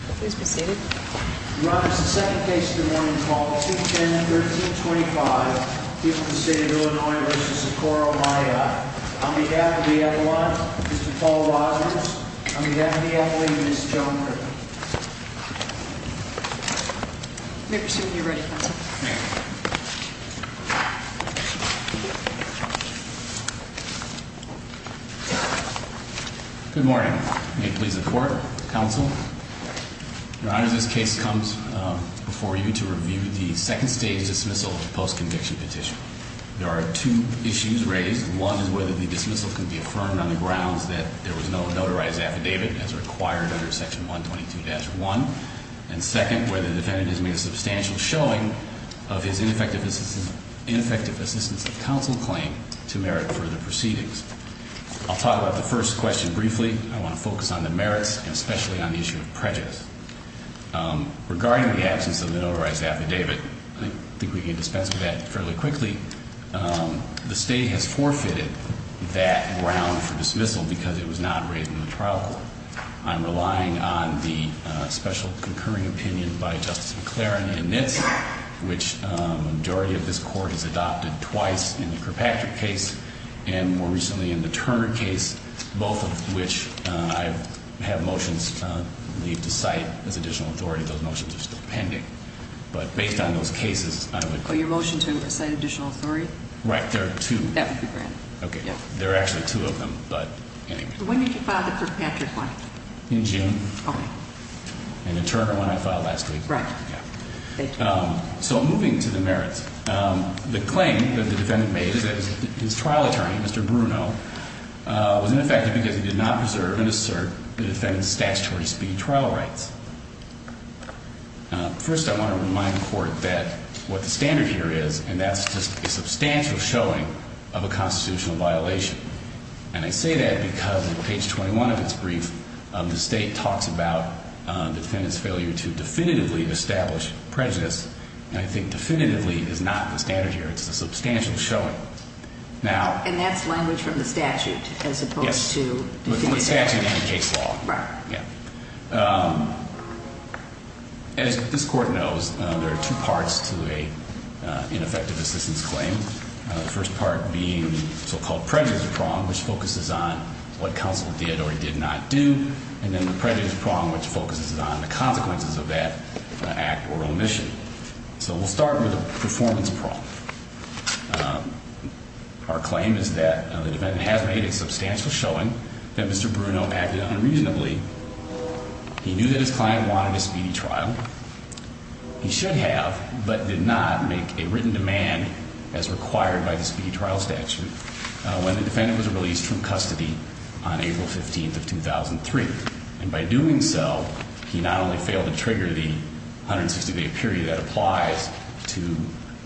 Please be seated. Your Honor, this is the second case of the morning, called 210-1325, a case of the State of Illinois v. Socorro-Maya. On behalf of the athlete, Mr. Paul Rosner. On behalf of the athlete, Ms. Joan Griffin. Members, you may be ready. Good morning. May it please the Court, Counsel. Your Honor, this case comes before you to review the second stage dismissal post-conviction petition. There are two issues raised. One is whether the dismissal can be affirmed on the grounds that there was no notarized affidavit as required under Section 122-1. And second, whether the defendant has made a substantial showing of his ineffective assistance of counsel claim to merit further proceedings. I'll talk about the first question briefly. I want to focus on the merits and especially on the issue of prejudice. Regarding the absence of the notarized affidavit, I think we can dispense with that fairly quickly. The State has forfeited that ground for dismissal because it was not raised in the trial court. I'm relying on the special concurring opinion by Justice McLaren and Nitz, which the majority of this Court has adopted twice in the Kirkpatrick case and more recently in the Turner case, both of which I have motions leave to cite as additional authority. Those motions are still pending. But based on those cases, I would- Oh, your motion to cite additional authority? Right. There are two. That would be granted. Okay. There are actually two of them, but anyway. When did you file the Kirkpatrick one? In June. Okay. And the Turner one I filed last week. Right. So moving to the merits, the claim that the defendant made is that his trial attorney, Mr. Bruno, was ineffective because he did not preserve and assert the defendant's statutory speed trial rights. First, I want to remind the Court that what the standard here is, and that's just a substantial showing of a constitutional violation. And I say that because on page 21 of its brief, the State talks about the defendant's failure to definitively establish prejudice, and I think definitively is not the standard here. It's a substantial showing. And that's language from the statute as opposed to- Yes, but from the statute and the case law. Right. As this Court knows, there are two parts to an ineffective assistance claim. The first part being the so-called prejudice prong, which focuses on what counsel did or did not do, and then the prejudice prong, which focuses on the consequences of that act or omission. So we'll start with the performance prong. Our claim is that the defendant has made a substantial showing that Mr. Bruno acted unreasonably. He knew that his client wanted a speedy trial. He should have, but did not make a written demand as required by the speedy trial statute when the defendant was released from custody on April 15 of 2003. And by doing so, he not only failed to trigger the 160-day period that applies to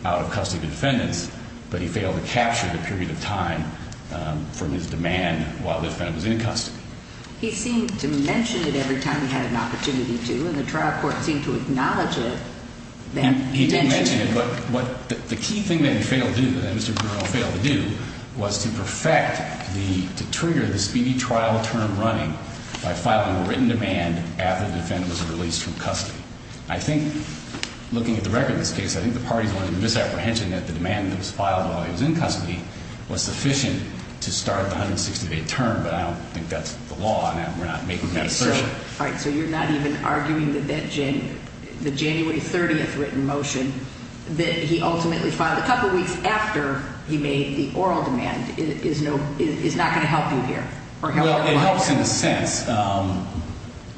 out-of-custody defendants, but he failed to capture the period of time from his demand while the defendant was in custody. He seemed to mention it every time he had an opportunity to, and the trial court seemed to acknowledge it. He did mention it, but the key thing that he failed to do, that Mr. Bruno failed to do, was to perfect the- to trigger the speedy trial term running by filing a written demand after the defendant was released from custody. I think, looking at the record of this case, I think the parties wanted a misapprehension that the demand that was filed while he was in custody was sufficient to start the 160-day term, but I don't think that's the law, and we're not making that assertion. All right, so you're not even arguing that that January 30th written motion that he ultimately filed a couple weeks after he made the oral demand is not going to help you here? Well, it helps in a sense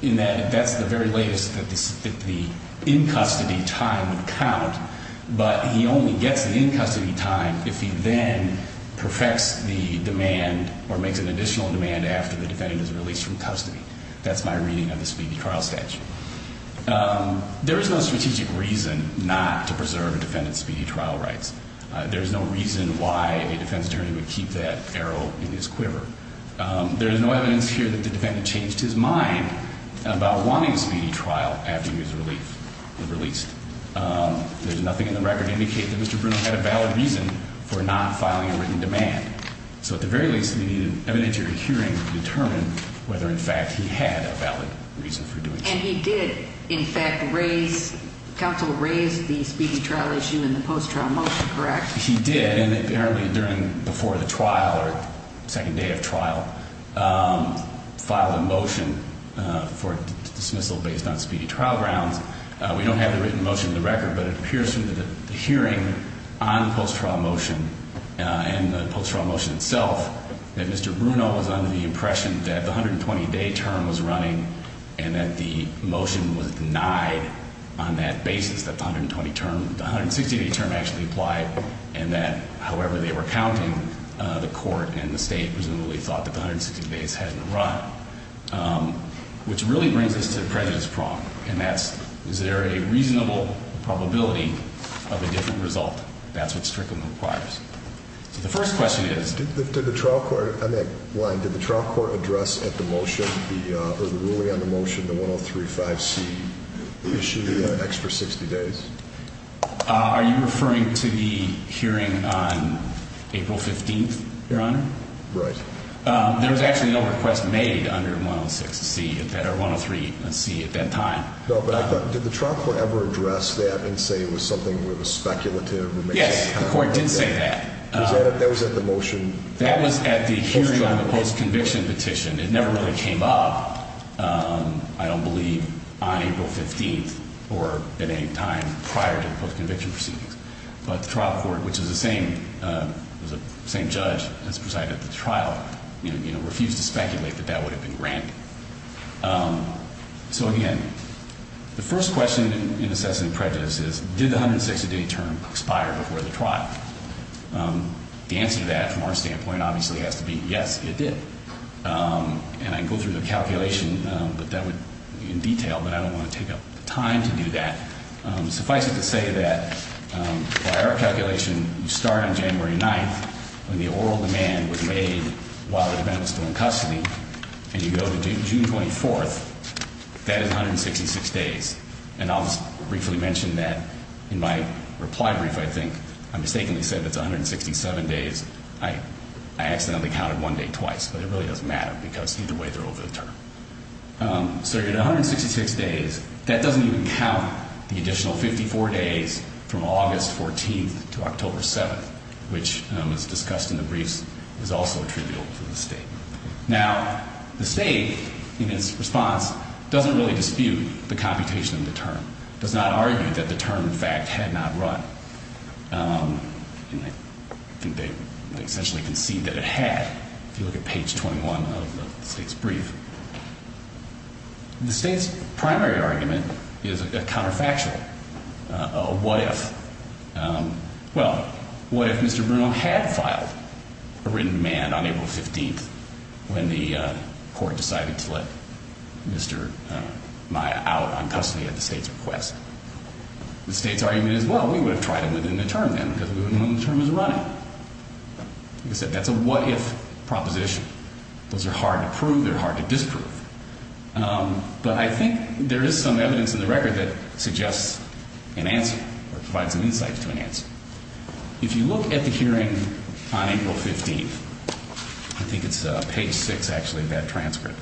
in that that's the very latest that the in-custody time would count, but he only gets the in-custody time if he then perfects the demand or makes an additional demand after the defendant is released from custody. That's my reading of the speedy trial statute. There is no strategic reason not to preserve a defendant's speedy trial rights. There is no reason why a defense attorney would keep that arrow in his quiver. There is no evidence here that the defendant changed his mind about wanting a speedy trial after he was released. There's nothing in the record to indicate that Mr. Bruno had a valid reason for not filing a written demand. So at the very least, we need an evidentiary hearing to determine whether, in fact, he had a valid reason for doing so. And he did, in fact, raise, counsel raised the speedy trial issue in the post-trial motion, correct? He did, and apparently during, before the trial or second day of trial, filed a motion for dismissal based on speedy trial grounds. We don't have the written motion in the record, but it appears through the hearing on the post-trial motion and the post-trial motion itself that Mr. Bruno was under the impression that the 120-day term was running and that the motion was denied on that basis, that the 120-term, the 160-day term actually applied, and that however they were counting, the court and the state presumably thought that the 160 days hadn't run. Which really brings us to the President's prong, and that's, is there a reasonable probability of a different result? That's what Strickland requires. So the first question is? Did the trial court, on that line, did the trial court address at the motion, or the ruling on the motion, the 103-5C issue, the extra 60 days? Are you referring to the hearing on April 15th, Your Honor? Right. There was actually no request made under 106-C at that, or 103-C at that time. No, but I thought, did the trial court ever address that and say it was something that was speculative? Yes, the court did say that. That was at the motion? That was at the hearing on the post-conviction petition. It never really came up, I don't believe, on April 15th or at any time prior to the post-conviction proceedings. But the trial court, which is the same judge that presided at the trial, refused to speculate that that would have been random. So, again, the first question in assessing prejudice is, did the 160-day term expire before the trial? The answer to that, from our standpoint, obviously has to be, yes, it did. And I can go through the calculation in detail, but I don't want to take up time to do that. Suffice it to say that, by our calculation, you start on January 9th when the oral demand was made while the defendant was still in custody, and you go to June 24th, that is 166 days. And I'll just briefly mention that in my reply brief, I think, I mistakenly said that's 167 days. I accidentally counted one day twice, but it really doesn't matter because either way they're over the term. So you're at 166 days. That doesn't even count the additional 54 days from August 14th to October 7th, which, as discussed in the briefs, is also trivial to the State. Now, the State, in its response, doesn't really dispute the computation of the term. It does not argue that the term, in fact, had not run. I think they essentially concede that it had, if you look at page 21 of the State's brief. The State's primary argument is a counterfactual, a what-if. Well, what if Mr. Bruno had filed a written demand on April 15th when the court decided to let Mr. Maia out on custody at the State's request? The State's argument is, well, we would have tried it within the term then because we wouldn't know when the term was running. Like I said, that's a what-if proposition. Those are hard to prove. They're hard to disprove. But I think there is some evidence in the record that suggests an answer or provides some insight to an answer. If you look at the hearing on April 15th, I think it's page 6, actually, of that transcript,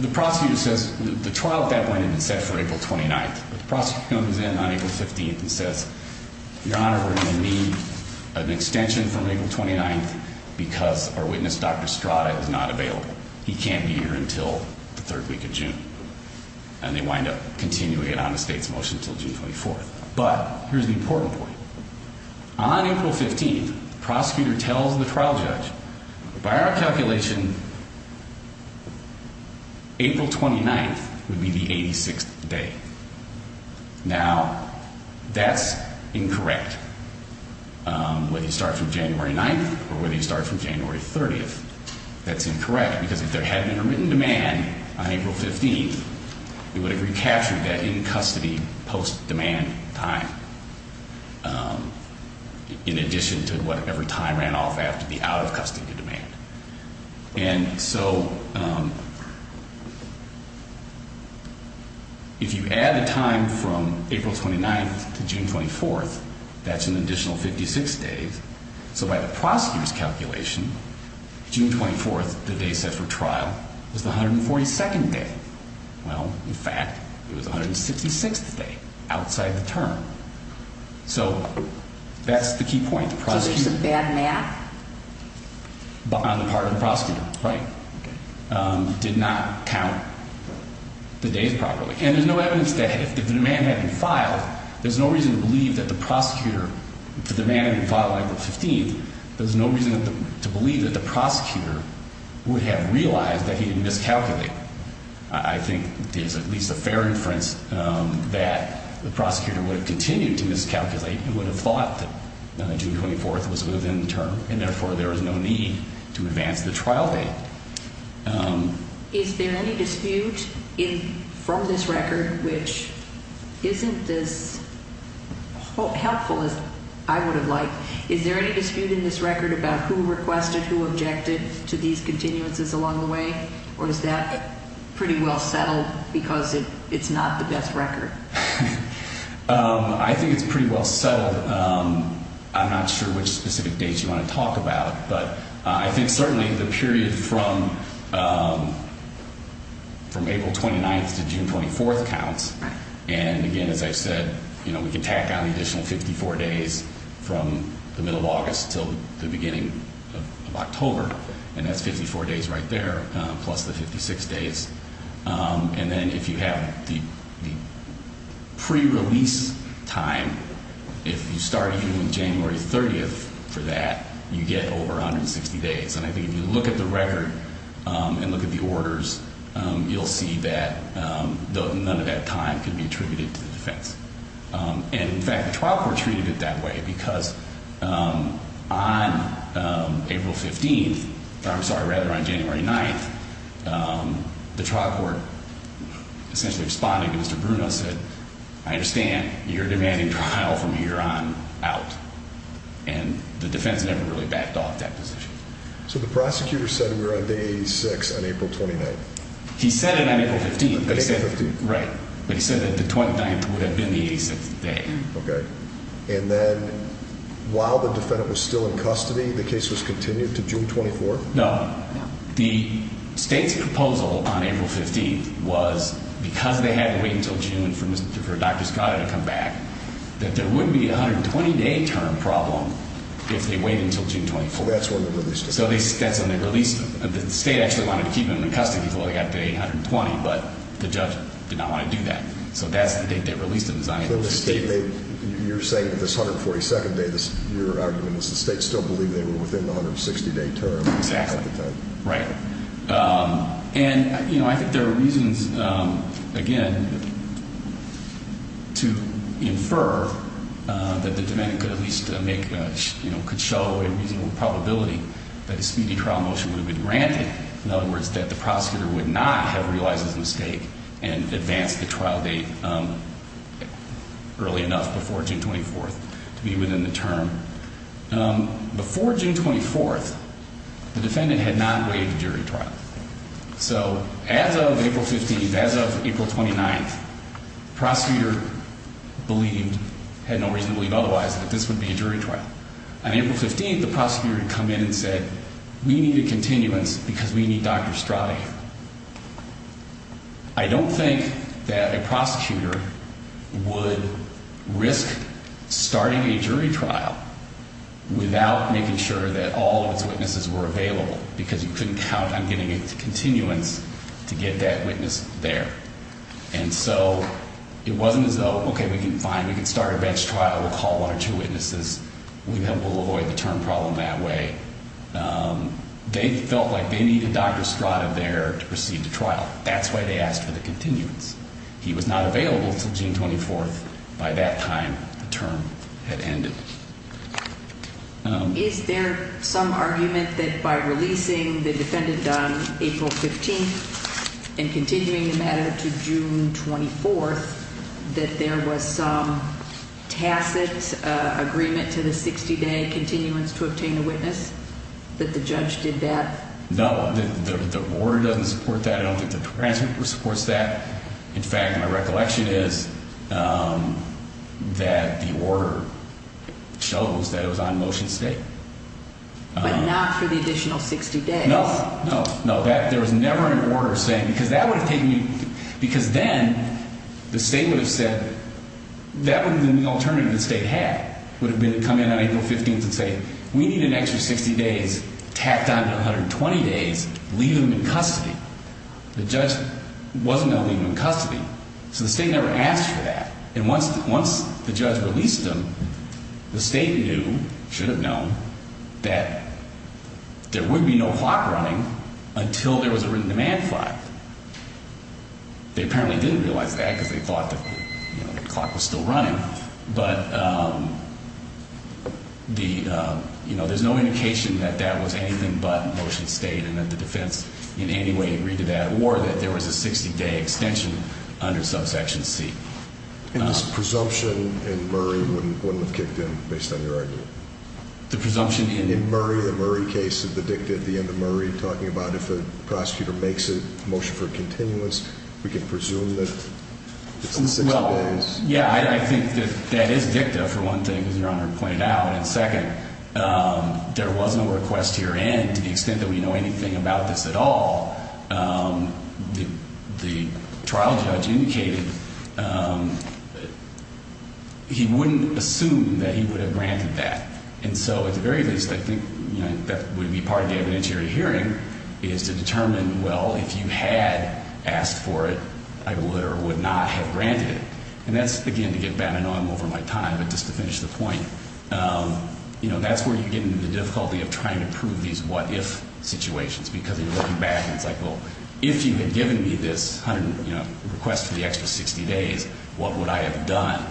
the prosecutor says the trial at that point had been set for April 29th. The prosecutor comes in on April 15th and says, Your Honor, we're going to need an extension from April 29th because our witness, Dr. Strada, is not available. He can't be here until the third week of June. And they wind up continuing it on the State's motion until June 24th. But here's the important point. On April 15th, the prosecutor tells the trial judge, by our calculation, April 29th would be the 86th day. Now, that's incorrect. Whether you start from January 9th or whether you start from January 30th, that's incorrect because if there had been a written demand on April 15th, it would have recaptured that in-custody post-demand time in addition to whatever time ran off after the out-of-custody demand. And so if you add the time from April 29th to June 24th, that's an additional 56 days. So by the prosecutor's calculation, June 24th, the day set for trial, was the 142nd day. Well, in fact, it was the 166th day outside the term. So that's the key point. So there's a bad math? On the part of the prosecutor, right. Did not count the days properly. And there's no evidence that if the demand had been filed, there's no reason to believe that the prosecutor, if the demand had been filed on April 15th, there's no reason to believe that the prosecutor would have realized that he had miscalculated. I think there's at least a fair inference that the prosecutor would have continued to miscalculate and would have thought that June 24th was within the term. And therefore, there is no need to advance the trial date. Is there any dispute from this record, which isn't as helpful as I would have liked? Is there any dispute in this record about who requested, who objected to these continuances along the way? Or is that pretty well settled because it's not the best record? I think it's pretty well settled. I'm not sure which specific dates you want to talk about. But I think certainly the period from April 29th to June 24th counts. And again, as I said, you know, we can tack on the additional 54 days from the middle of August to the beginning of October. And that's 54 days right there, plus the 56 days. And then if you have the pre-release time, if you start even with January 30th for that, you get over 160 days. And I think if you look at the record and look at the orders, you'll see that none of that time can be attributed to the defense. And in fact, the trial court treated it that way because on April 15th, or I'm sorry, rather on January 9th, the trial court essentially responded to Mr. Bruno and said, I understand you're demanding trial from here on out. And the defense never really backed off that position. So the prosecutor said we're on day six on April 29th. He said it on April 15th. Right. But he said that the 29th would have been the 86th day. Okay. And then while the defendant was still in custody, the case was continued to June 24th? No. The state's proposal on April 15th was because they had to wait until June for Dr. Scotti to come back, that there wouldn't be a 120-day term problem if they wait until June 24th. Oh, that's when they released him. So that's when they released him. The state actually wanted to keep him in custody until they got the 820, but the judge did not want to do that. So that's the date they released him. You're saying that this 142nd day, your argument is the state still believed they were within the 160-day term at the time. Exactly. Right. And, you know, I think there are reasons, again, to infer that the defendant could at least make a, you know, could show a reasonable probability that a speedy trial motion would have been granted. In other words, that the prosecutor would not have realized his mistake and advanced the trial date early enough before June 24th to be within the term. Before June 24th, the defendant had not waived a jury trial. So as of April 15th, as of April 29th, the prosecutor believed, had no reason to believe otherwise, that this would be a jury trial. On April 15th, the prosecutor had come in and said, we need a continuance because we need Dr. Scotti. I don't think that a prosecutor would risk starting a jury trial without making sure that all of its witnesses were available, because you couldn't count on getting a continuance to get that witness there. And so it wasn't as though, okay, we can, fine, we can start a bench trial. We'll call one or two witnesses. We'll avoid the term problem that way. They felt like they needed Dr. Scotti there to proceed the trial. That's why they asked for the continuance. He was not available until June 24th. By that time, the term had ended. Is there some argument that by releasing the defendant on April 15th and continuing the matter to June 24th, that there was some tacit agreement to the 60-day continuance to obtain a witness, that the judge did that? No. The order doesn't support that. I don't think the transcript supports that. In fact, my recollection is that the order shows that it was on motion state. But not for the additional 60 days. No, no, no. There was never an order saying, because that would have taken you, because then the state would have said, that would have been the only alternative the state had, would have been to come in on April 15th and say, we need an extra 60 days tacked on to 120 days, leave him in custody. The judge wasn't going to leave him in custody. So the state never asked for that. And once the judge released him, the state knew, should have known, that there would be no clock running until there was a written demand flag. They apparently didn't realize that because they thought the clock was still running. But there's no indication that that was anything but motion state, and that the defense in any way agreed to that, or that there was a 60-day extension under subsection C. And this presumption in Murray wouldn't have kicked in based on your argument? The presumption in? In Murray, the Murray case, the dicta at the end of Murray, talking about if a prosecutor makes a motion for continuance, we can presume that it's in 60 days. Well, yeah, I think that that is dicta, for one thing, as Your Honor pointed out. And second, there was no request to your end to the extent that we know anything about this at all. The trial judge indicated he wouldn't assume that he would have granted that. And so at the very least, I think that would be part of the evidentiary hearing, is to determine, well, if you had asked for it, I would or would not have granted it. And that's, again, to get back, I know I'm over my time, but just to finish the point, that's where you get into the difficulty of trying to prove these what-if situations, because you're looking back and it's like, well, if you had given me this request for the extra 60 days, what would I have done?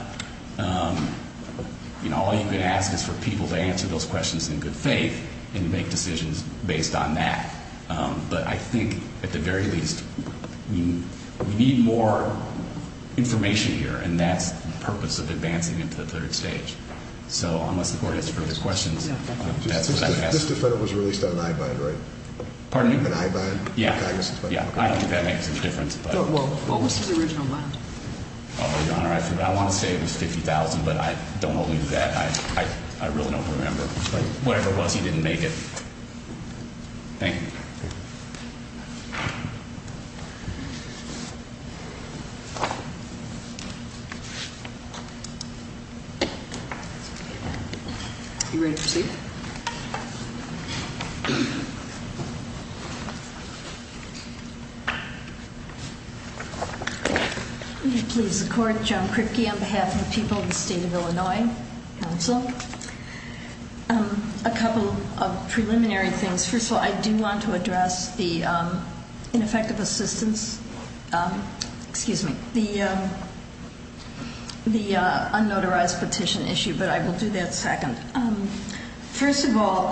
All you can ask is for people to answer those questions in good faith and to make decisions based on that. But I think at the very least, we need more information here, and that's the purpose of advancing into the third stage. So unless the Court has further questions, that's what I'd ask. This defendant was released on an i-bind, right? Pardon me? An i-bind? Yeah. I don't think that makes any difference. Well, what was his original amount? Your Honor, I want to say it was $50,000, but don't hold me to that. I really don't remember. Whatever it was, he didn't make it. You ready to proceed? Please, the Court. Joan Kripke on behalf of the people of the State of Illinois. Counsel. A couple of preliminary things. First of all, I do want to address the ineffective assistance, excuse me, the unnotarized petition issue, but I will do that second. First of all,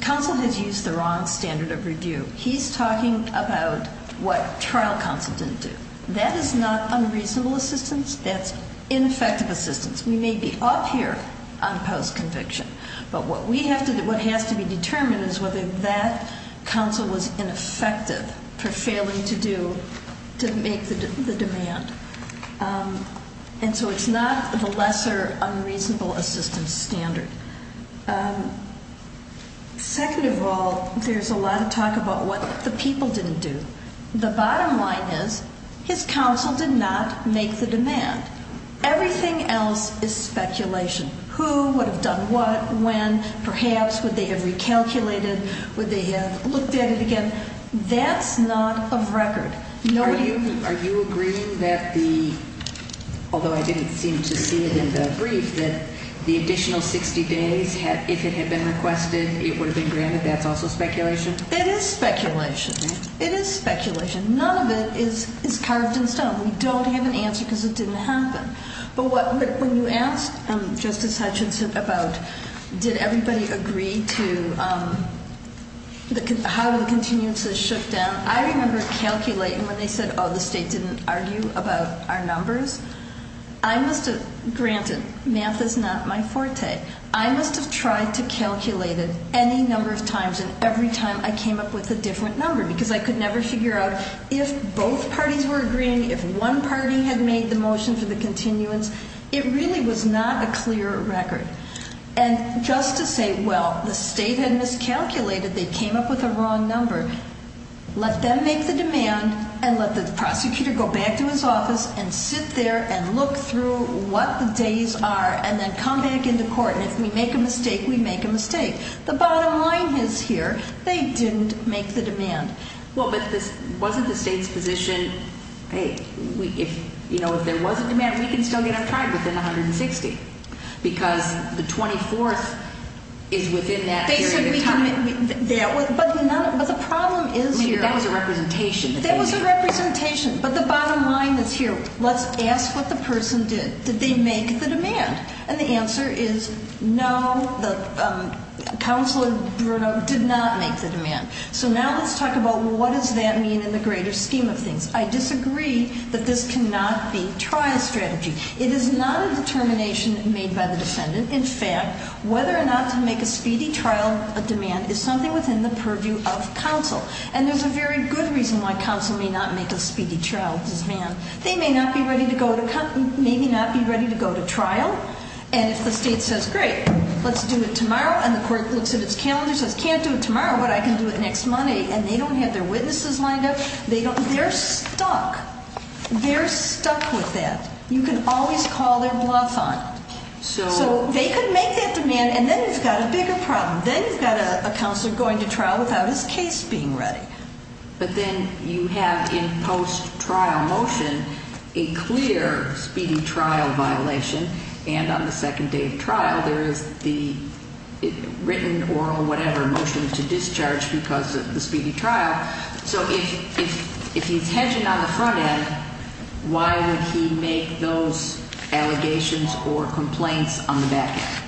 counsel has used the wrong standard of review. He's talking about what trial counsel didn't do. That is not unreasonable assistance. That's ineffective assistance. We may be up here on post-conviction, but what has to be determined is whether that counsel was ineffective for failing to make the demand. And so it's not the lesser unreasonable assistance standard. Second of all, there's a lot of talk about what the people didn't do. The bottom line is his counsel did not make the demand. Everything else is speculation. Who would have done what, when, perhaps would they have recalculated, would they have looked at it again? That's not of record. Are you agreeing that the, although I didn't seem to see it in the brief, that the additional 60 days, if it had been requested, it would have been granted, that's also speculation? It is speculation. It is speculation. None of it is carved in stone. We don't have an answer because it didn't happen. But when you asked Justice Hutchinson about did everybody agree to how the continuances shook down, I remember calculating when they said, oh, the state didn't argue about our numbers. I must have, granted, math is not my forte. I must have tried to calculate it any number of times and every time I came up with a different number because I could never figure out if both parties were agreeing, if one party had made the motion for the continuance. It really was not a clear record. And just to say, well, the state had miscalculated, they came up with a wrong number, let them make the demand and let the prosecutor go back to his office and sit there and look through what the days are and then come back into court. And if we make a mistake, we make a mistake. The bottom line is here, they didn't make the demand. Well, but wasn't the state's position, hey, if there was a demand, we can still get it tried within 160 because the 24th is within that period of time. But the problem is here. I mean, that was a representation. That was a representation. But the bottom line is here. Let's ask what the person did. Did they make the demand? And the answer is no. Counselor Bruno did not make the demand. So now let's talk about what does that mean in the greater scheme of things. I disagree that this cannot be trial strategy. It is not a determination made by the defendant. In fact, whether or not to make a speedy trial a demand is something within the purview of counsel. And there's a very good reason why counsel may not make a speedy trial. Because, man, they may not be ready to go to trial. And if the state says, great, let's do it tomorrow, and the court looks at its calendar and says, can't do it tomorrow, but I can do it next Monday, and they don't have their witnesses lined up, they're stuck. They're stuck with that. You can always call their bluff on it. So they could make that demand, and then you've got a bigger problem. Then you've got a counselor going to trial without his case being ready. But then you have in post-trial motion a clear speedy trial violation. And on the second day of trial, there is the written or whatever motion to discharge because of the speedy trial. So if he's hedging on the front end, why would he make those allegations or complaints on the back end?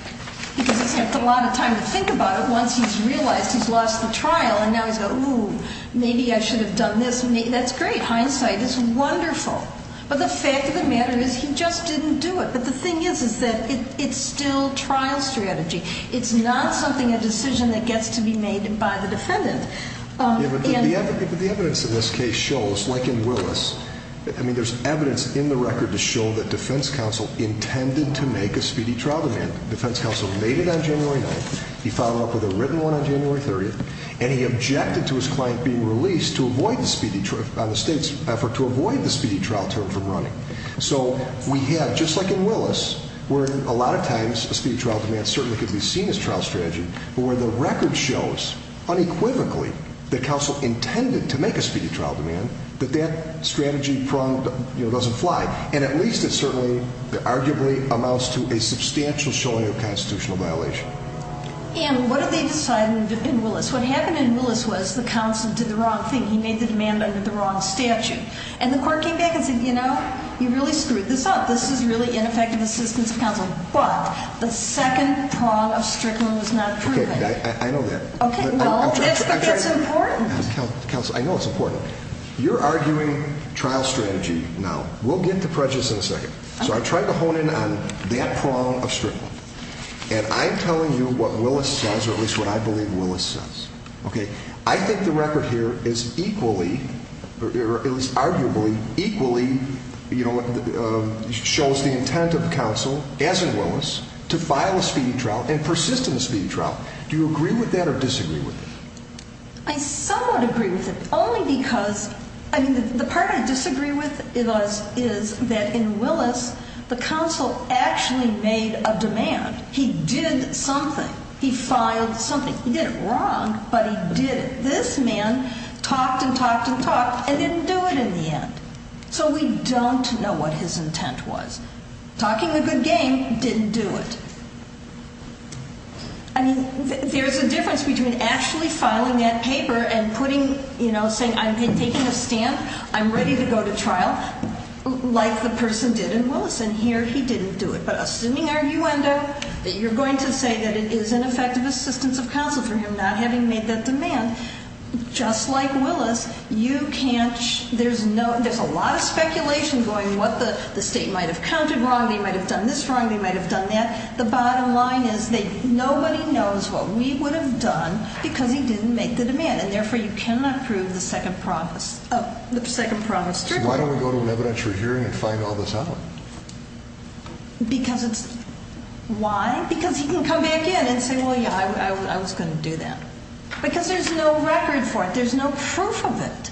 Because he's had a lot of time to think about it once he's realized he's lost the trial. And now he's got, ooh, maybe I should have done this. That's great. Hindsight is wonderful. But the fact of the matter is he just didn't do it. But the thing is, is that it's still trial strategy. It's not something, a decision that gets to be made by the defendant. But the evidence in this case shows, like in Willis, I mean there's evidence in the record to show that defense counsel intended to make a speedy trial demand. Defense counsel made it on January 9th. He followed up with a written one on January 30th. And he objected to his client being released on the state's effort to avoid the speedy trial term from running. So we have, just like in Willis, where a lot of times a speedy trial demand certainly could be seen as trial strategy. But where the record shows, unequivocally, that counsel intended to make a speedy trial demand, that that strategy prong doesn't fly. And at least it certainly, arguably, amounts to a substantial showing of constitutional violation. And what did they decide in Willis? What happened in Willis was the counsel did the wrong thing. He made the demand under the wrong statute. And the court came back and said, you know, you really screwed this up. This is really ineffective assistance of counsel. But the second prong of Strickland was not proven. I know that. But it's important. Counsel, I know it's important. You're arguing trial strategy now. We'll get to prejudice in a second. So I'm trying to hone in on that prong of Strickland. And I'm telling you what Willis says, or at least what I believe Willis says. Okay. I think the record here is equally, or at least arguably equally, you know, shows the intent of counsel, as in Willis, to file a speedy trial and persist in a speedy trial. Do you agree with that or disagree with it? I somewhat agree with it. Only because, I mean, the part I disagree with is that in Willis the counsel actually made a demand. He did something. He filed something. He did it wrong, but he did it. This man talked and talked and talked and didn't do it in the end. So we don't know what his intent was. Talking a good game, didn't do it. I mean, there's a difference between actually filing that paper and putting, you know, saying I'm taking a stand, I'm ready to go to trial, like the person did in Willis. And here he didn't do it. But assuming you end up, that you're going to say that it is an effective assistance of counsel for him not having made that demand, just like Willis, you can't, there's no, there's a lot of speculation going what the state might have counted wrong. They might have done this wrong. They might have done that. The bottom line is nobody knows what we would have done because he didn't make the demand. And, therefore, you cannot prove the second promise, the second promise. So why don't we go to an evidentiary hearing and find all this out? Because it's, why? Because he can come back in and say, well, yeah, I was going to do that. Because there's no record for it. There's no proof of it.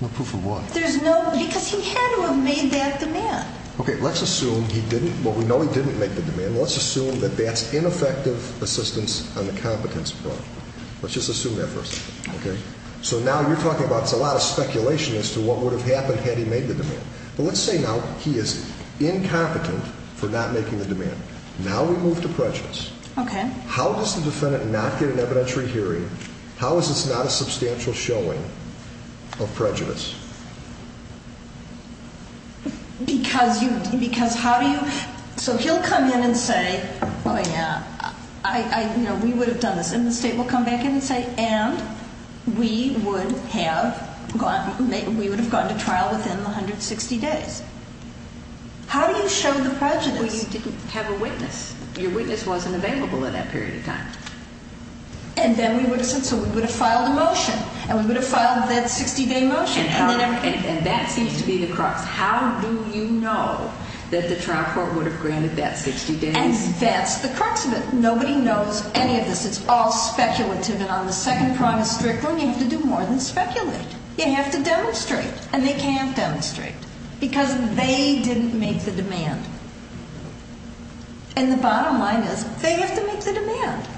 No proof of what? There's no, because he had to have made that demand. Okay, let's assume he didn't. Well, we know he didn't make the demand. Let's assume that that's ineffective assistance on the competence part. Let's just assume that first. Okay? So now you're talking about, it's a lot of speculation as to what would have happened had he made the demand. But let's say now he is incompetent for not making the demand. Now we move to prejudice. Okay. How does the defendant not get an evidentiary hearing? How is this not a substantial showing of prejudice? Because you, because how do you, so he'll come in and say, oh, yeah, I, you know, we would have done this. And the state will come back in and say, and we would have gone, we would have gone to trial within the 160 days. How do you show the prejudice? Well, you didn't have a witness. Your witness wasn't available at that period of time. And then we would have said, so we would have filed a motion. And we would have filed that 60-day motion. And that seems to be the crux. How do you know that the trial court would have granted that 60 days? And that's the crux of it. Nobody knows any of this. It's all speculative. And on the second prime of strict rule, you have to do more than speculate. You have to demonstrate. And they can't demonstrate because they didn't make the demand. And the bottom line is they have to make the demand.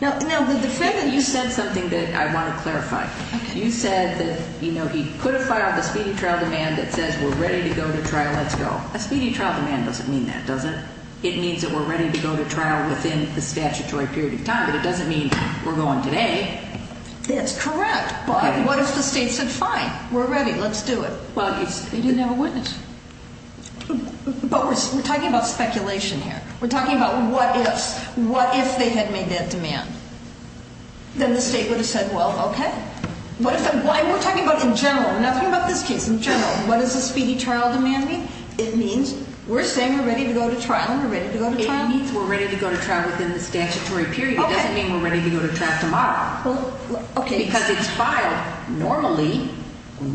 Now, the defendant, you said something that I want to clarify. Okay. You said that, you know, he could have filed a speedy trial demand that says we're ready to go to trial, let's go. A speedy trial demand doesn't mean that, does it? It means that we're ready to go to trial within the statutory period of time. But it doesn't mean we're going today. That's correct. But what if the state said, fine, we're ready, let's do it? Well, they didn't have a witness. But we're talking about speculation here. We're talking about what ifs. What if they had made that demand? Then the state would have said, well, okay. We're talking about in general. We're not talking about this case. In general, what does a speedy trial demand mean? It means we're saying we're ready to go to trial and we're ready to go to trial. It means we're ready to go to trial within the statutory period. It doesn't mean we're ready to go to trial tomorrow. Well, okay. Because it's filed normally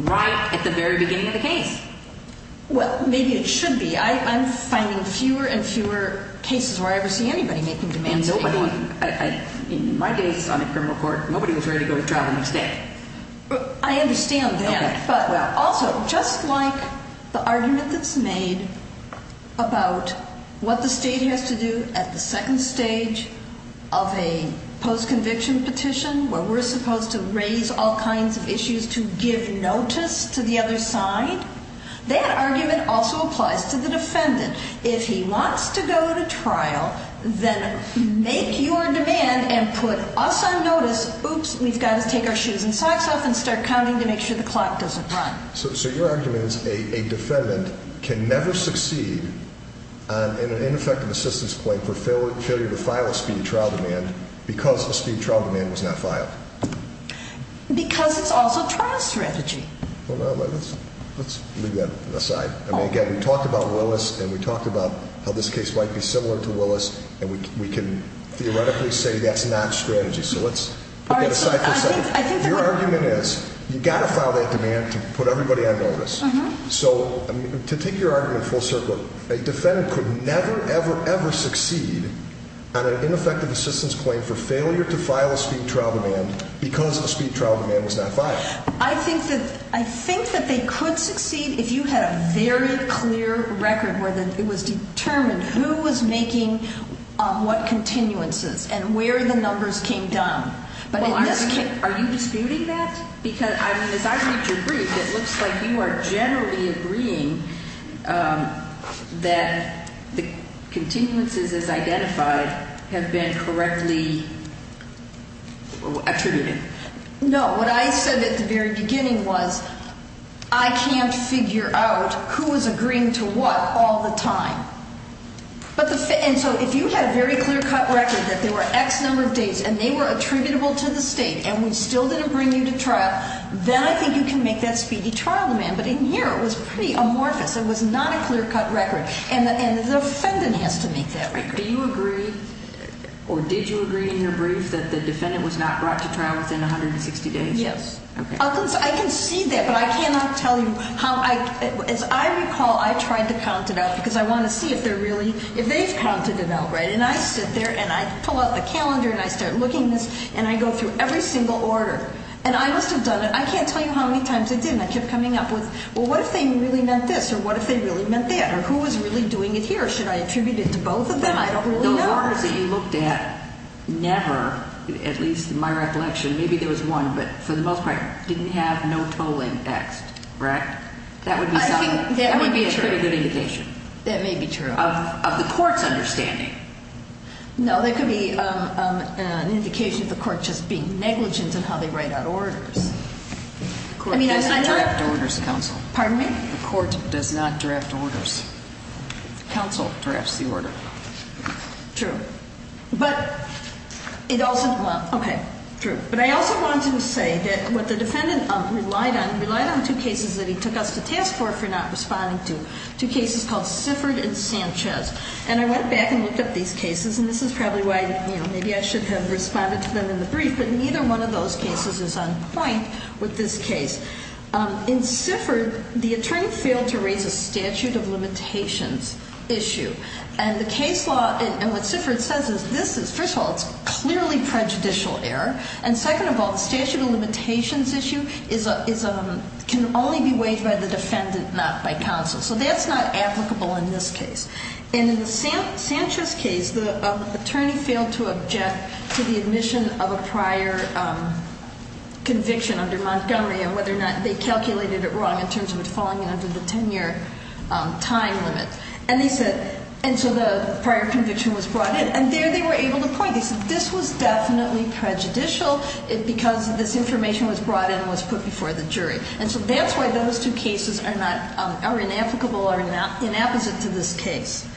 right at the very beginning of the case. Well, maybe it should be. I'm finding fewer and fewer cases where I ever see anybody making demands of anyone. In my days on the criminal court, nobody was ready to go to trial the next day. I understand that. But also, just like the argument that's made about what the state has to do at the second stage of a post-conviction petition where we're supposed to raise all kinds of issues to give notice to the other side, that argument also applies to the defendant. If he wants to go to trial, then make your demand and put us on notice. If he says, oops, we've got to take our shoes and socks off and start counting to make sure the clock doesn't run. So your argument is a defendant can never succeed in an ineffective assistance claim for failure to file a speedy trial demand because a speedy trial demand was not filed. Because it's also trial strategy. Well, let's leave that aside. Again, we talked about Willis and we talked about how this case might be similar to Willis, and we can theoretically say that's not strategy. So let's put that aside for a second. Your argument is you've got to file that demand to put everybody on notice. So to take your argument full circle, a defendant could never, ever, ever succeed on an ineffective assistance claim for failure to file a speedy trial demand because a speedy trial demand was not filed. I think that they could succeed if you had a very clear record where it was determined who was making what continuances and where the numbers came down. Are you disputing that? Because, I mean, as I read your brief, it looks like you are generally agreeing that the continuances as identified have been correctly attributed. No, what I said at the very beginning was I can't figure out who is agreeing to what all the time. And so if you had a very clear-cut record that there were X number of dates and they were attributable to the State and we still didn't bring you to trial, then I think you can make that speedy trial demand. But in here it was pretty amorphous. It was not a clear-cut record. And the defendant has to make that record. Do you agree or did you agree in your brief that the defendant was not brought to trial within 160 days? Yes. I can see that, but I cannot tell you how. As I recall, I tried to count it out because I want to see if they've counted it out right. And I sit there and I pull out the calendar and I start looking at this and I go through every single order. And I must have done it. I can't tell you how many times I did and I kept coming up with, well, what if they really meant this or what if they really meant that or who was really doing it here? Should I attribute it to both of them? I don't really know. Those orders that you looked at never, at least in my recollection, maybe there was one, but for the most part, didn't have no tolling X, correct? I think that would be true. That would be a pretty good indication. That may be true. Of the court's understanding. No, that could be an indication of the court just being negligent in how they write out orders. The court does not draft orders, counsel. Pardon me? The court does not draft orders. Counsel drafts the order. True. But it also, well, okay, true. But I also want to say that what the defendant relied on, relied on two cases that he took us to task for for not responding to, two cases called Sifford and Sanchez. And I went back and looked at these cases and this is probably why, you know, maybe I should have responded to them in the brief, but neither one of those cases is on point with this case. In Sifford, the attorney failed to raise a statute of limitations issue. And the case law, and what Sifford says is this is, first of all, it's clearly prejudicial error. And second of all, the statute of limitations issue can only be waived by the defendant, not by counsel. So that's not applicable in this case. And in the Sanchez case, the attorney failed to object to the admission of a prior conviction under Montgomery and whether or not they calculated it wrong in terms of it falling under the 10-year time limit. And they said, and so the prior conviction was brought in. And there they were able to point. They said this was definitely prejudicial because this information was brought in and was put before the jury. And so that's why those two cases are not, are inapplicable or inapposite to this case.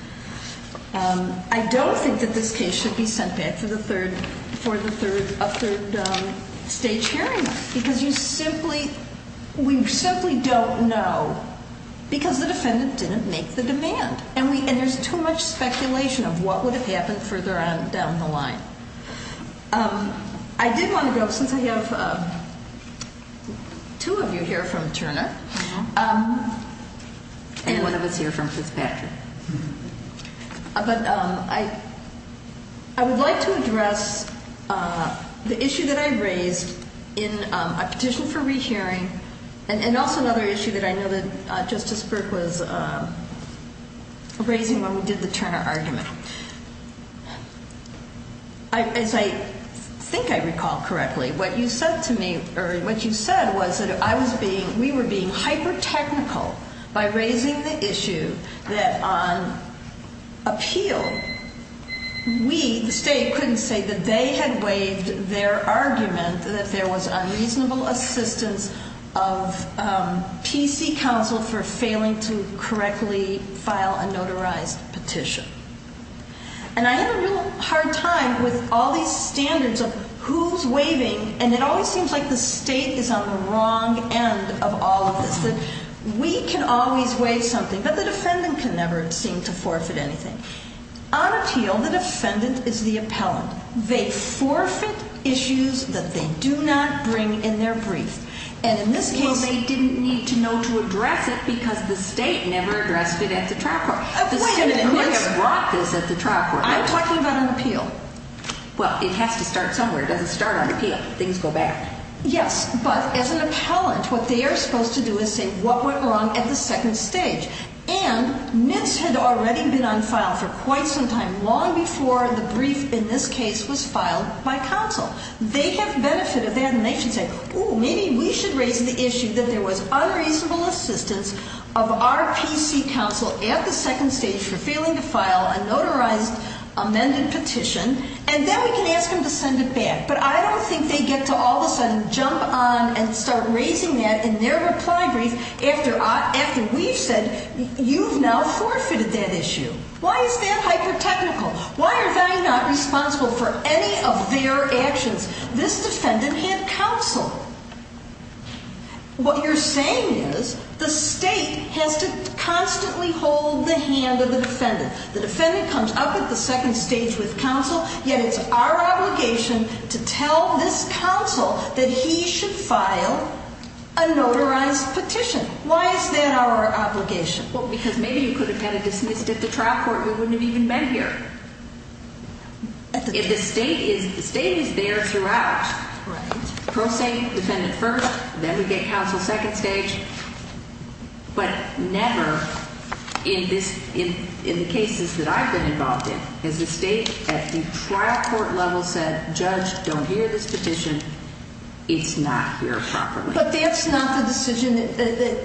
I don't think that this case should be sent back for the third, for the third, a third stage hearing. Because you simply, we simply don't know because the defendant didn't make the demand. And we, and there's too much speculation of what would have happened further on down the line. I did want to go, since I have two of you here from Turner and one of us here from Fitzpatrick. But I would like to address the issue that I raised in a petition for rehearing and also another issue that I know that Justice Burke was raising when we did the Turner argument. As I think I recall correctly, what you said to me, or what you said was that I was being, we were being hyper-technical by raising the issue that on appeal, we, the state, couldn't say that they had waived their argument that there was unreasonable assistance of PC counsel for failing to correctly file a notarized petition. And I had a real hard time with all these standards of who's waiving. And it always seems like the state is on the wrong end of all of this. That we can always waive something, but the defendant can never seem to forfeit anything. On appeal, the defendant is the appellant. They forfeit issues that they do not bring in their brief. And in this case- Well, they didn't need to know to address it because the state never addressed it at the trial court. Wait a minute. Who would have brought this at the trial court? I'm talking about on appeal. Well, it has to start somewhere. It doesn't start on appeal. Things go back. Yes, but as an appellant, what they are supposed to do is say what went wrong at the second stage. And this had already been on file for quite some time, long before the brief in this case was filed by counsel. They have benefit of that, and they should say, Oh, maybe we should raise the issue that there was unreasonable assistance of our PC counsel at the second stage for failing to file a notarized amended petition. And then we can ask them to send it back. But I don't think they get to all of a sudden jump on and start raising that in their reply brief after we've said you've now forfeited that issue. Why is that hyper-technical? Why are they not responsible for any of their actions? This defendant had counsel. What you're saying is the state has to constantly hold the hand of the defendant. The defendant comes up at the second stage with counsel, yet it's our obligation to tell this counsel that he should file a notarized petition. Why is that our obligation? Well, because maybe you could have had it dismissed at the trial court and we wouldn't have even been here. The state is there throughout. Right. Pro se, defendant first, then we get counsel second stage. But never in the cases that I've been involved in has the state at the trial court level said, Judge, don't hear this petition. It's not here properly. But that's not the decision,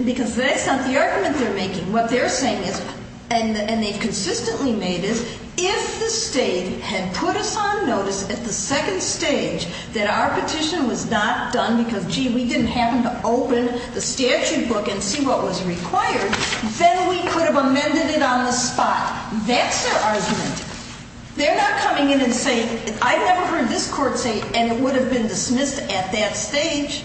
because that's not the argument they're making. What they're saying is, and they've consistently made is, if the state had put us on notice at the second stage that our petition was not done because, gee, we didn't happen to open the statute book and see what was required, then we could have amended it on the spot. That's their argument. They're not coming in and saying, I've never heard this court say, and it would have been dismissed at that stage.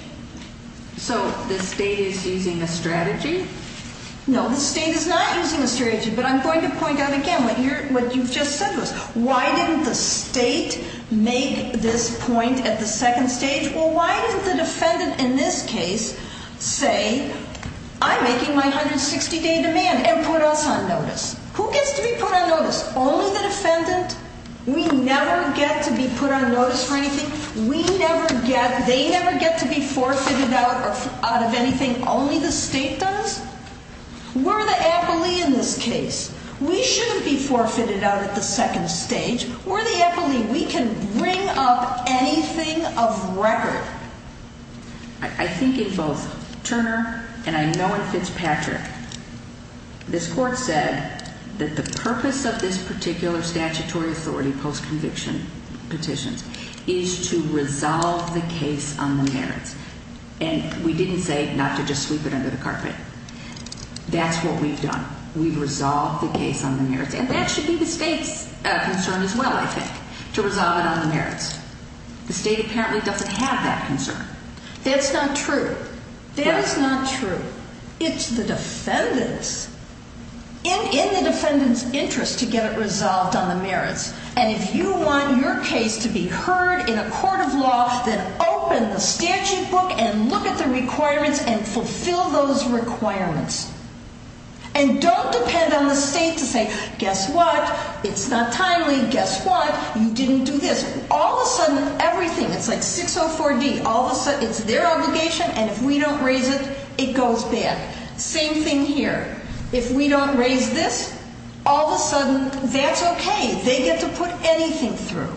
So the state is using a strategy? No, the state is not using a strategy. But I'm going to point out again what you've just said was, why didn't the state make this point at the second stage? Well, why didn't the defendant in this case say, I'm making my 160-day demand and put us on notice? Who gets to be put on notice? Only the defendant? We never get to be put on notice for anything? We never get, they never get to be forfeited out of anything? Only the state does? We're the appellee in this case. We shouldn't be forfeited out at the second stage. We're the appellee. We can bring up anything of record. I think in both Turner and I know in Fitzpatrick, this court said that the purpose of this particular statutory authority post-conviction petition is to resolve the case on the merits. And we didn't say not to just sweep it under the carpet. That's what we've done. We've resolved the case on the merits. And that should be the state's concern as well, I think, to resolve it on the merits. The state apparently doesn't have that concern. That's not true. That is not true. It's the defendant's, in the defendant's interest to get it resolved on the merits. And if you want your case to be heard in a court of law, then open the statute book and look at the requirements and fulfill those requirements. And don't depend on the state to say, guess what? It's not timely. Guess what? You didn't do this. All of a sudden, everything, it's like 604D. All of a sudden, it's their obligation, and if we don't raise it, it goes bad. Same thing here. If we don't raise this, all of a sudden, that's okay. They get to put anything through.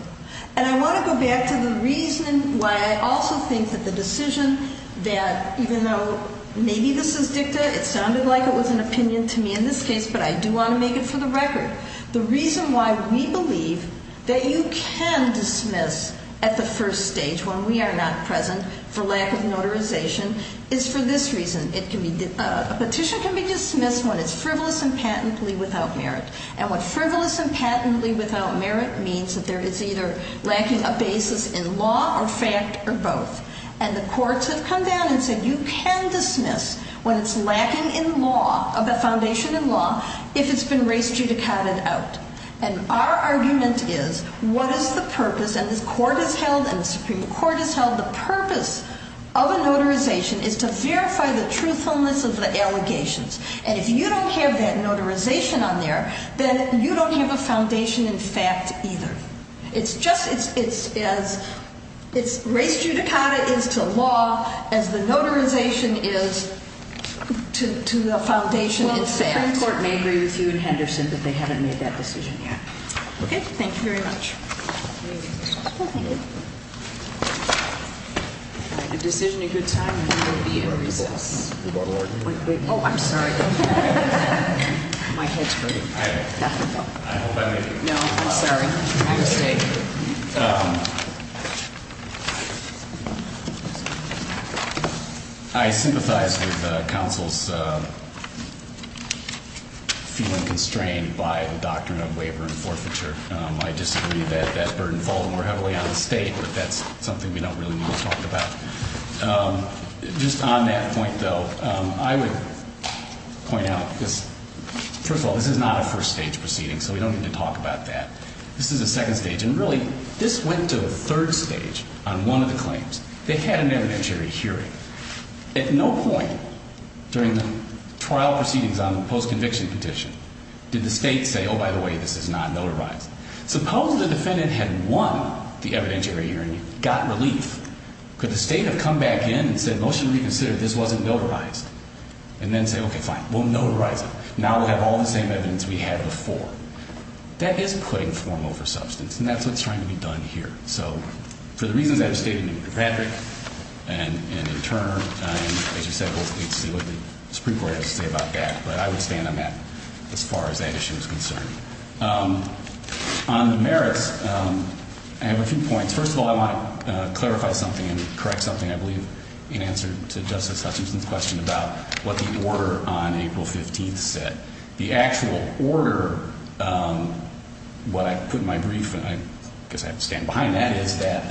And I want to go back to the reason why I also think that the decision that even though maybe this is dicta, it sounded like it was an opinion to me in this case, but I do want to make it for the record. The reason why we believe that you can dismiss at the first stage when we are not present for lack of notarization is for this reason. It can be, a petition can be dismissed when it's frivolous and patently without merit. And what frivolous and patently without merit means that there is either lacking a basis in law or fact or both. And the courts have come down and said you can dismiss when it's lacking in law, a foundation in law, if it's been res judicata'd out. And our argument is what is the purpose? And the court has held and the Supreme Court has held the purpose of a notarization is to verify the truthfulness of the allegations. And if you don't have that notarization on there, then you don't have a foundation in fact either. It's just, it's as race judicata is to law, as the notarization is to the foundation itself. Well, the Supreme Court may agree with you and Henderson that they haven't made that decision yet. Okay, thank you very much. Thank you. A decision in good time will be in recess. Oh, I'm sorry. My head's hurting. No, I'm sorry. My mistake. I sympathize with counsel's feeling constrained by the doctrine of waiver and forfeiture. I disagree that that burden falls more heavily on the state, but that's something we don't really need to talk about. Just on that point, though, I would point out, first of all, this is not a first stage proceeding, so we don't need to talk about that. This is a second stage. And really, this went to a third stage on one of the claims. They had an evidentiary hearing. At no point during the trial proceedings on the post-conviction petition did the state say, oh, by the way, this is not notarized. Suppose the defendant had won the evidentiary hearing, got relief. Could the state have come back in and said, motion reconsidered, this wasn't notarized, and then say, okay, fine, we'll notarize it. Now we'll have all the same evidence we had before. That is putting form over substance, and that's what's trying to be done here. So for the reasons I've stated to Patrick and to Turner, as you said, we'll see what the Supreme Court has to say about that. But I would stand on that as far as that issue is concerned. On the merits, I have a few points. First of all, I want to clarify something and correct something, I believe, in answer to Justice Hutchinson's question about what the order on April 15th said. The actual order, what I put in my brief, and I guess I have to stand behind that, is that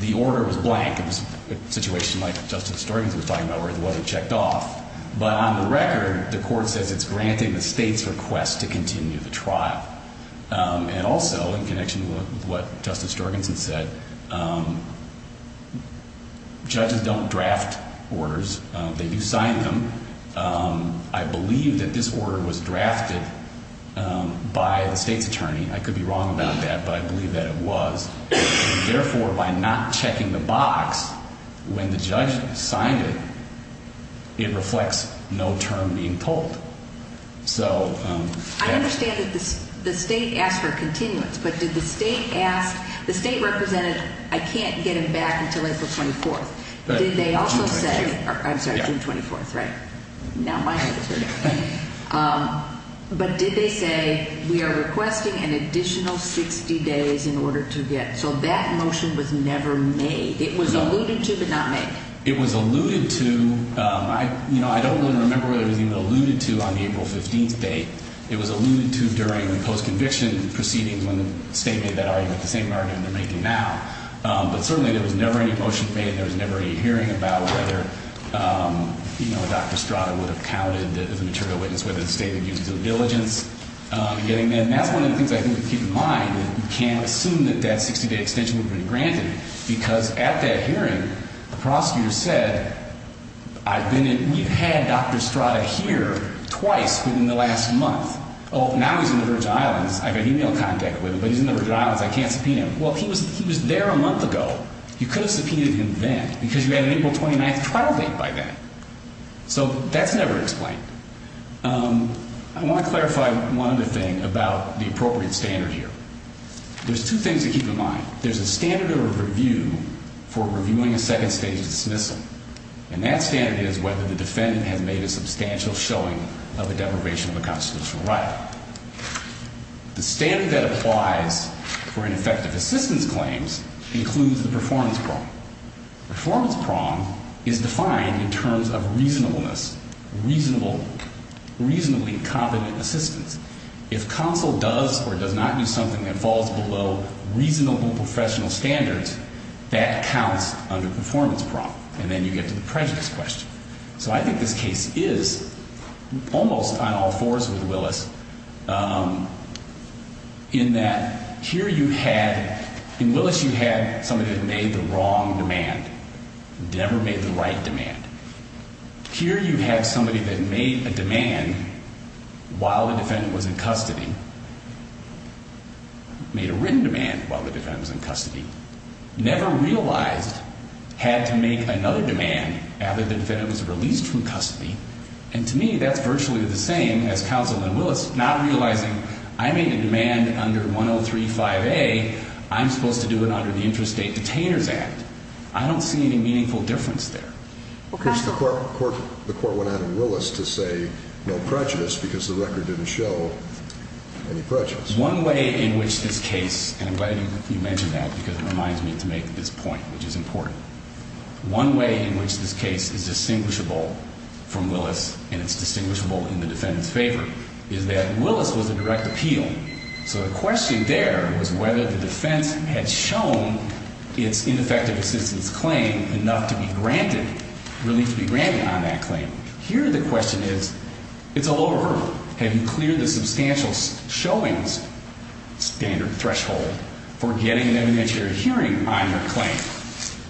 the order was blank. It was a situation like Justice Jorgensen was talking about where it wasn't checked off. But on the record, the court says it's granting the state's request to continue the trial. And also, in connection with what Justice Jorgensen said, judges don't draft orders. They do sign them. I believe that this order was drafted by the state's attorney. I could be wrong about that, but I believe that it was. And therefore, by not checking the box when the judge signed it, it reflects no term being told. So that's... I understand that the state asked for a continuance, but did the state ask the state representative, I can't get him back until April 24th. Did they also say... I'm sorry, June 24th, right? Now my head is hurting. But did they say, we are requesting an additional 60 days in order to get... So that motion was never made. It was alluded to but not made. It was alluded to. I don't really remember whether it was even alluded to on the April 15th date. It was alluded to during the post-conviction proceedings when the state made that argument, the same argument they're making now. But certainly there was never any motion made. There was never any hearing about whether, you know, Dr. Strada would have counted as a material witness, whether the state would give due diligence. And that's one of the things I think we keep in mind. You can't assume that that 60-day extension would have been granted because at that hearing, the prosecutor said, I've been in... We've had Dr. Strada here twice within the last month. Oh, now he's in the Virgin Islands. I've got email contact with him, but he's in the Virgin Islands. I can't subpoena him. Well, he was there a month ago. You could have subpoenaed him then because you had an April 29th trial date by then. So that's never explained. I want to clarify one other thing about the appropriate standard here. There's two things to keep in mind. There's a standard of review for reviewing a second-stage dismissal. And that standard is whether the defendant has made a substantial showing of a deprivation of a constitutional right. The standard that applies for ineffective assistance claims includes the performance prong. Performance prong is defined in terms of reasonableness, reasonably competent assistance. If counsel does or does not do something that falls below reasonable professional standards, that counts under performance prong. And then you get to the prejudice question. So I think this case is almost on all fours with Willis in that here you had, in Willis you had somebody that made the wrong demand, never made the right demand. Here you have somebody that made a demand while the defendant was in custody, made a written demand while the defendant was in custody, never realized had to make another demand after the defendant was released from custody. And to me, that's virtually the same as counsel in Willis, not realizing I made a demand under 103.5a. I'm supposed to do it under the Interstate Detainers Act. I don't see any meaningful difference there. The court went out in Willis to say no prejudice because the record didn't show any prejudice. One way in which this case, and I'm glad you mentioned that because it reminds me to make this point, which is important. One way in which this case is distinguishable from Willis and it's distinguishable in the defendant's favor is that Willis was a direct appeal. So the question there was whether the defense had shown its ineffective assistance claim enough to be granted, relief to be granted on that claim. Here the question is, it's a lower hurdle. Have you cleared the substantial showings standard threshold for getting an evidentiary hearing on your claim?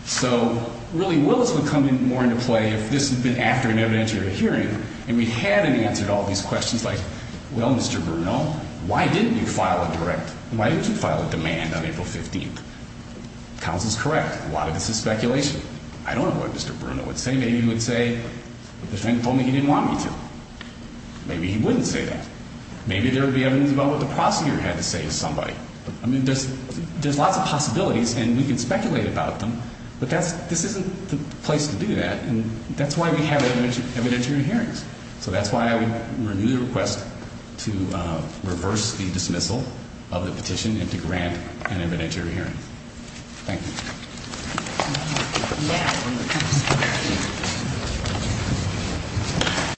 So really, Willis would come in more into play if this had been after an evidentiary hearing and we hadn't answered all these questions like, well, Mr. Bruno, why didn't you file a direct? Why didn't you file a demand on April 15th? Counsel's correct. A lot of this is speculation. I don't know what Mr. Bruno would say. Maybe he would say, the defendant told me he didn't want me to. Maybe he wouldn't say that. Maybe there would be evidence about what the prosecutor had to say to somebody. I mean, there's lots of possibilities and we can speculate about them, but this isn't the place to do that, and that's why we have evidentiary hearings. So that's why I would renew the request to reverse the dismissal of the petition and to grant an evidentiary hearing. Thank you. Now we will close the hearing.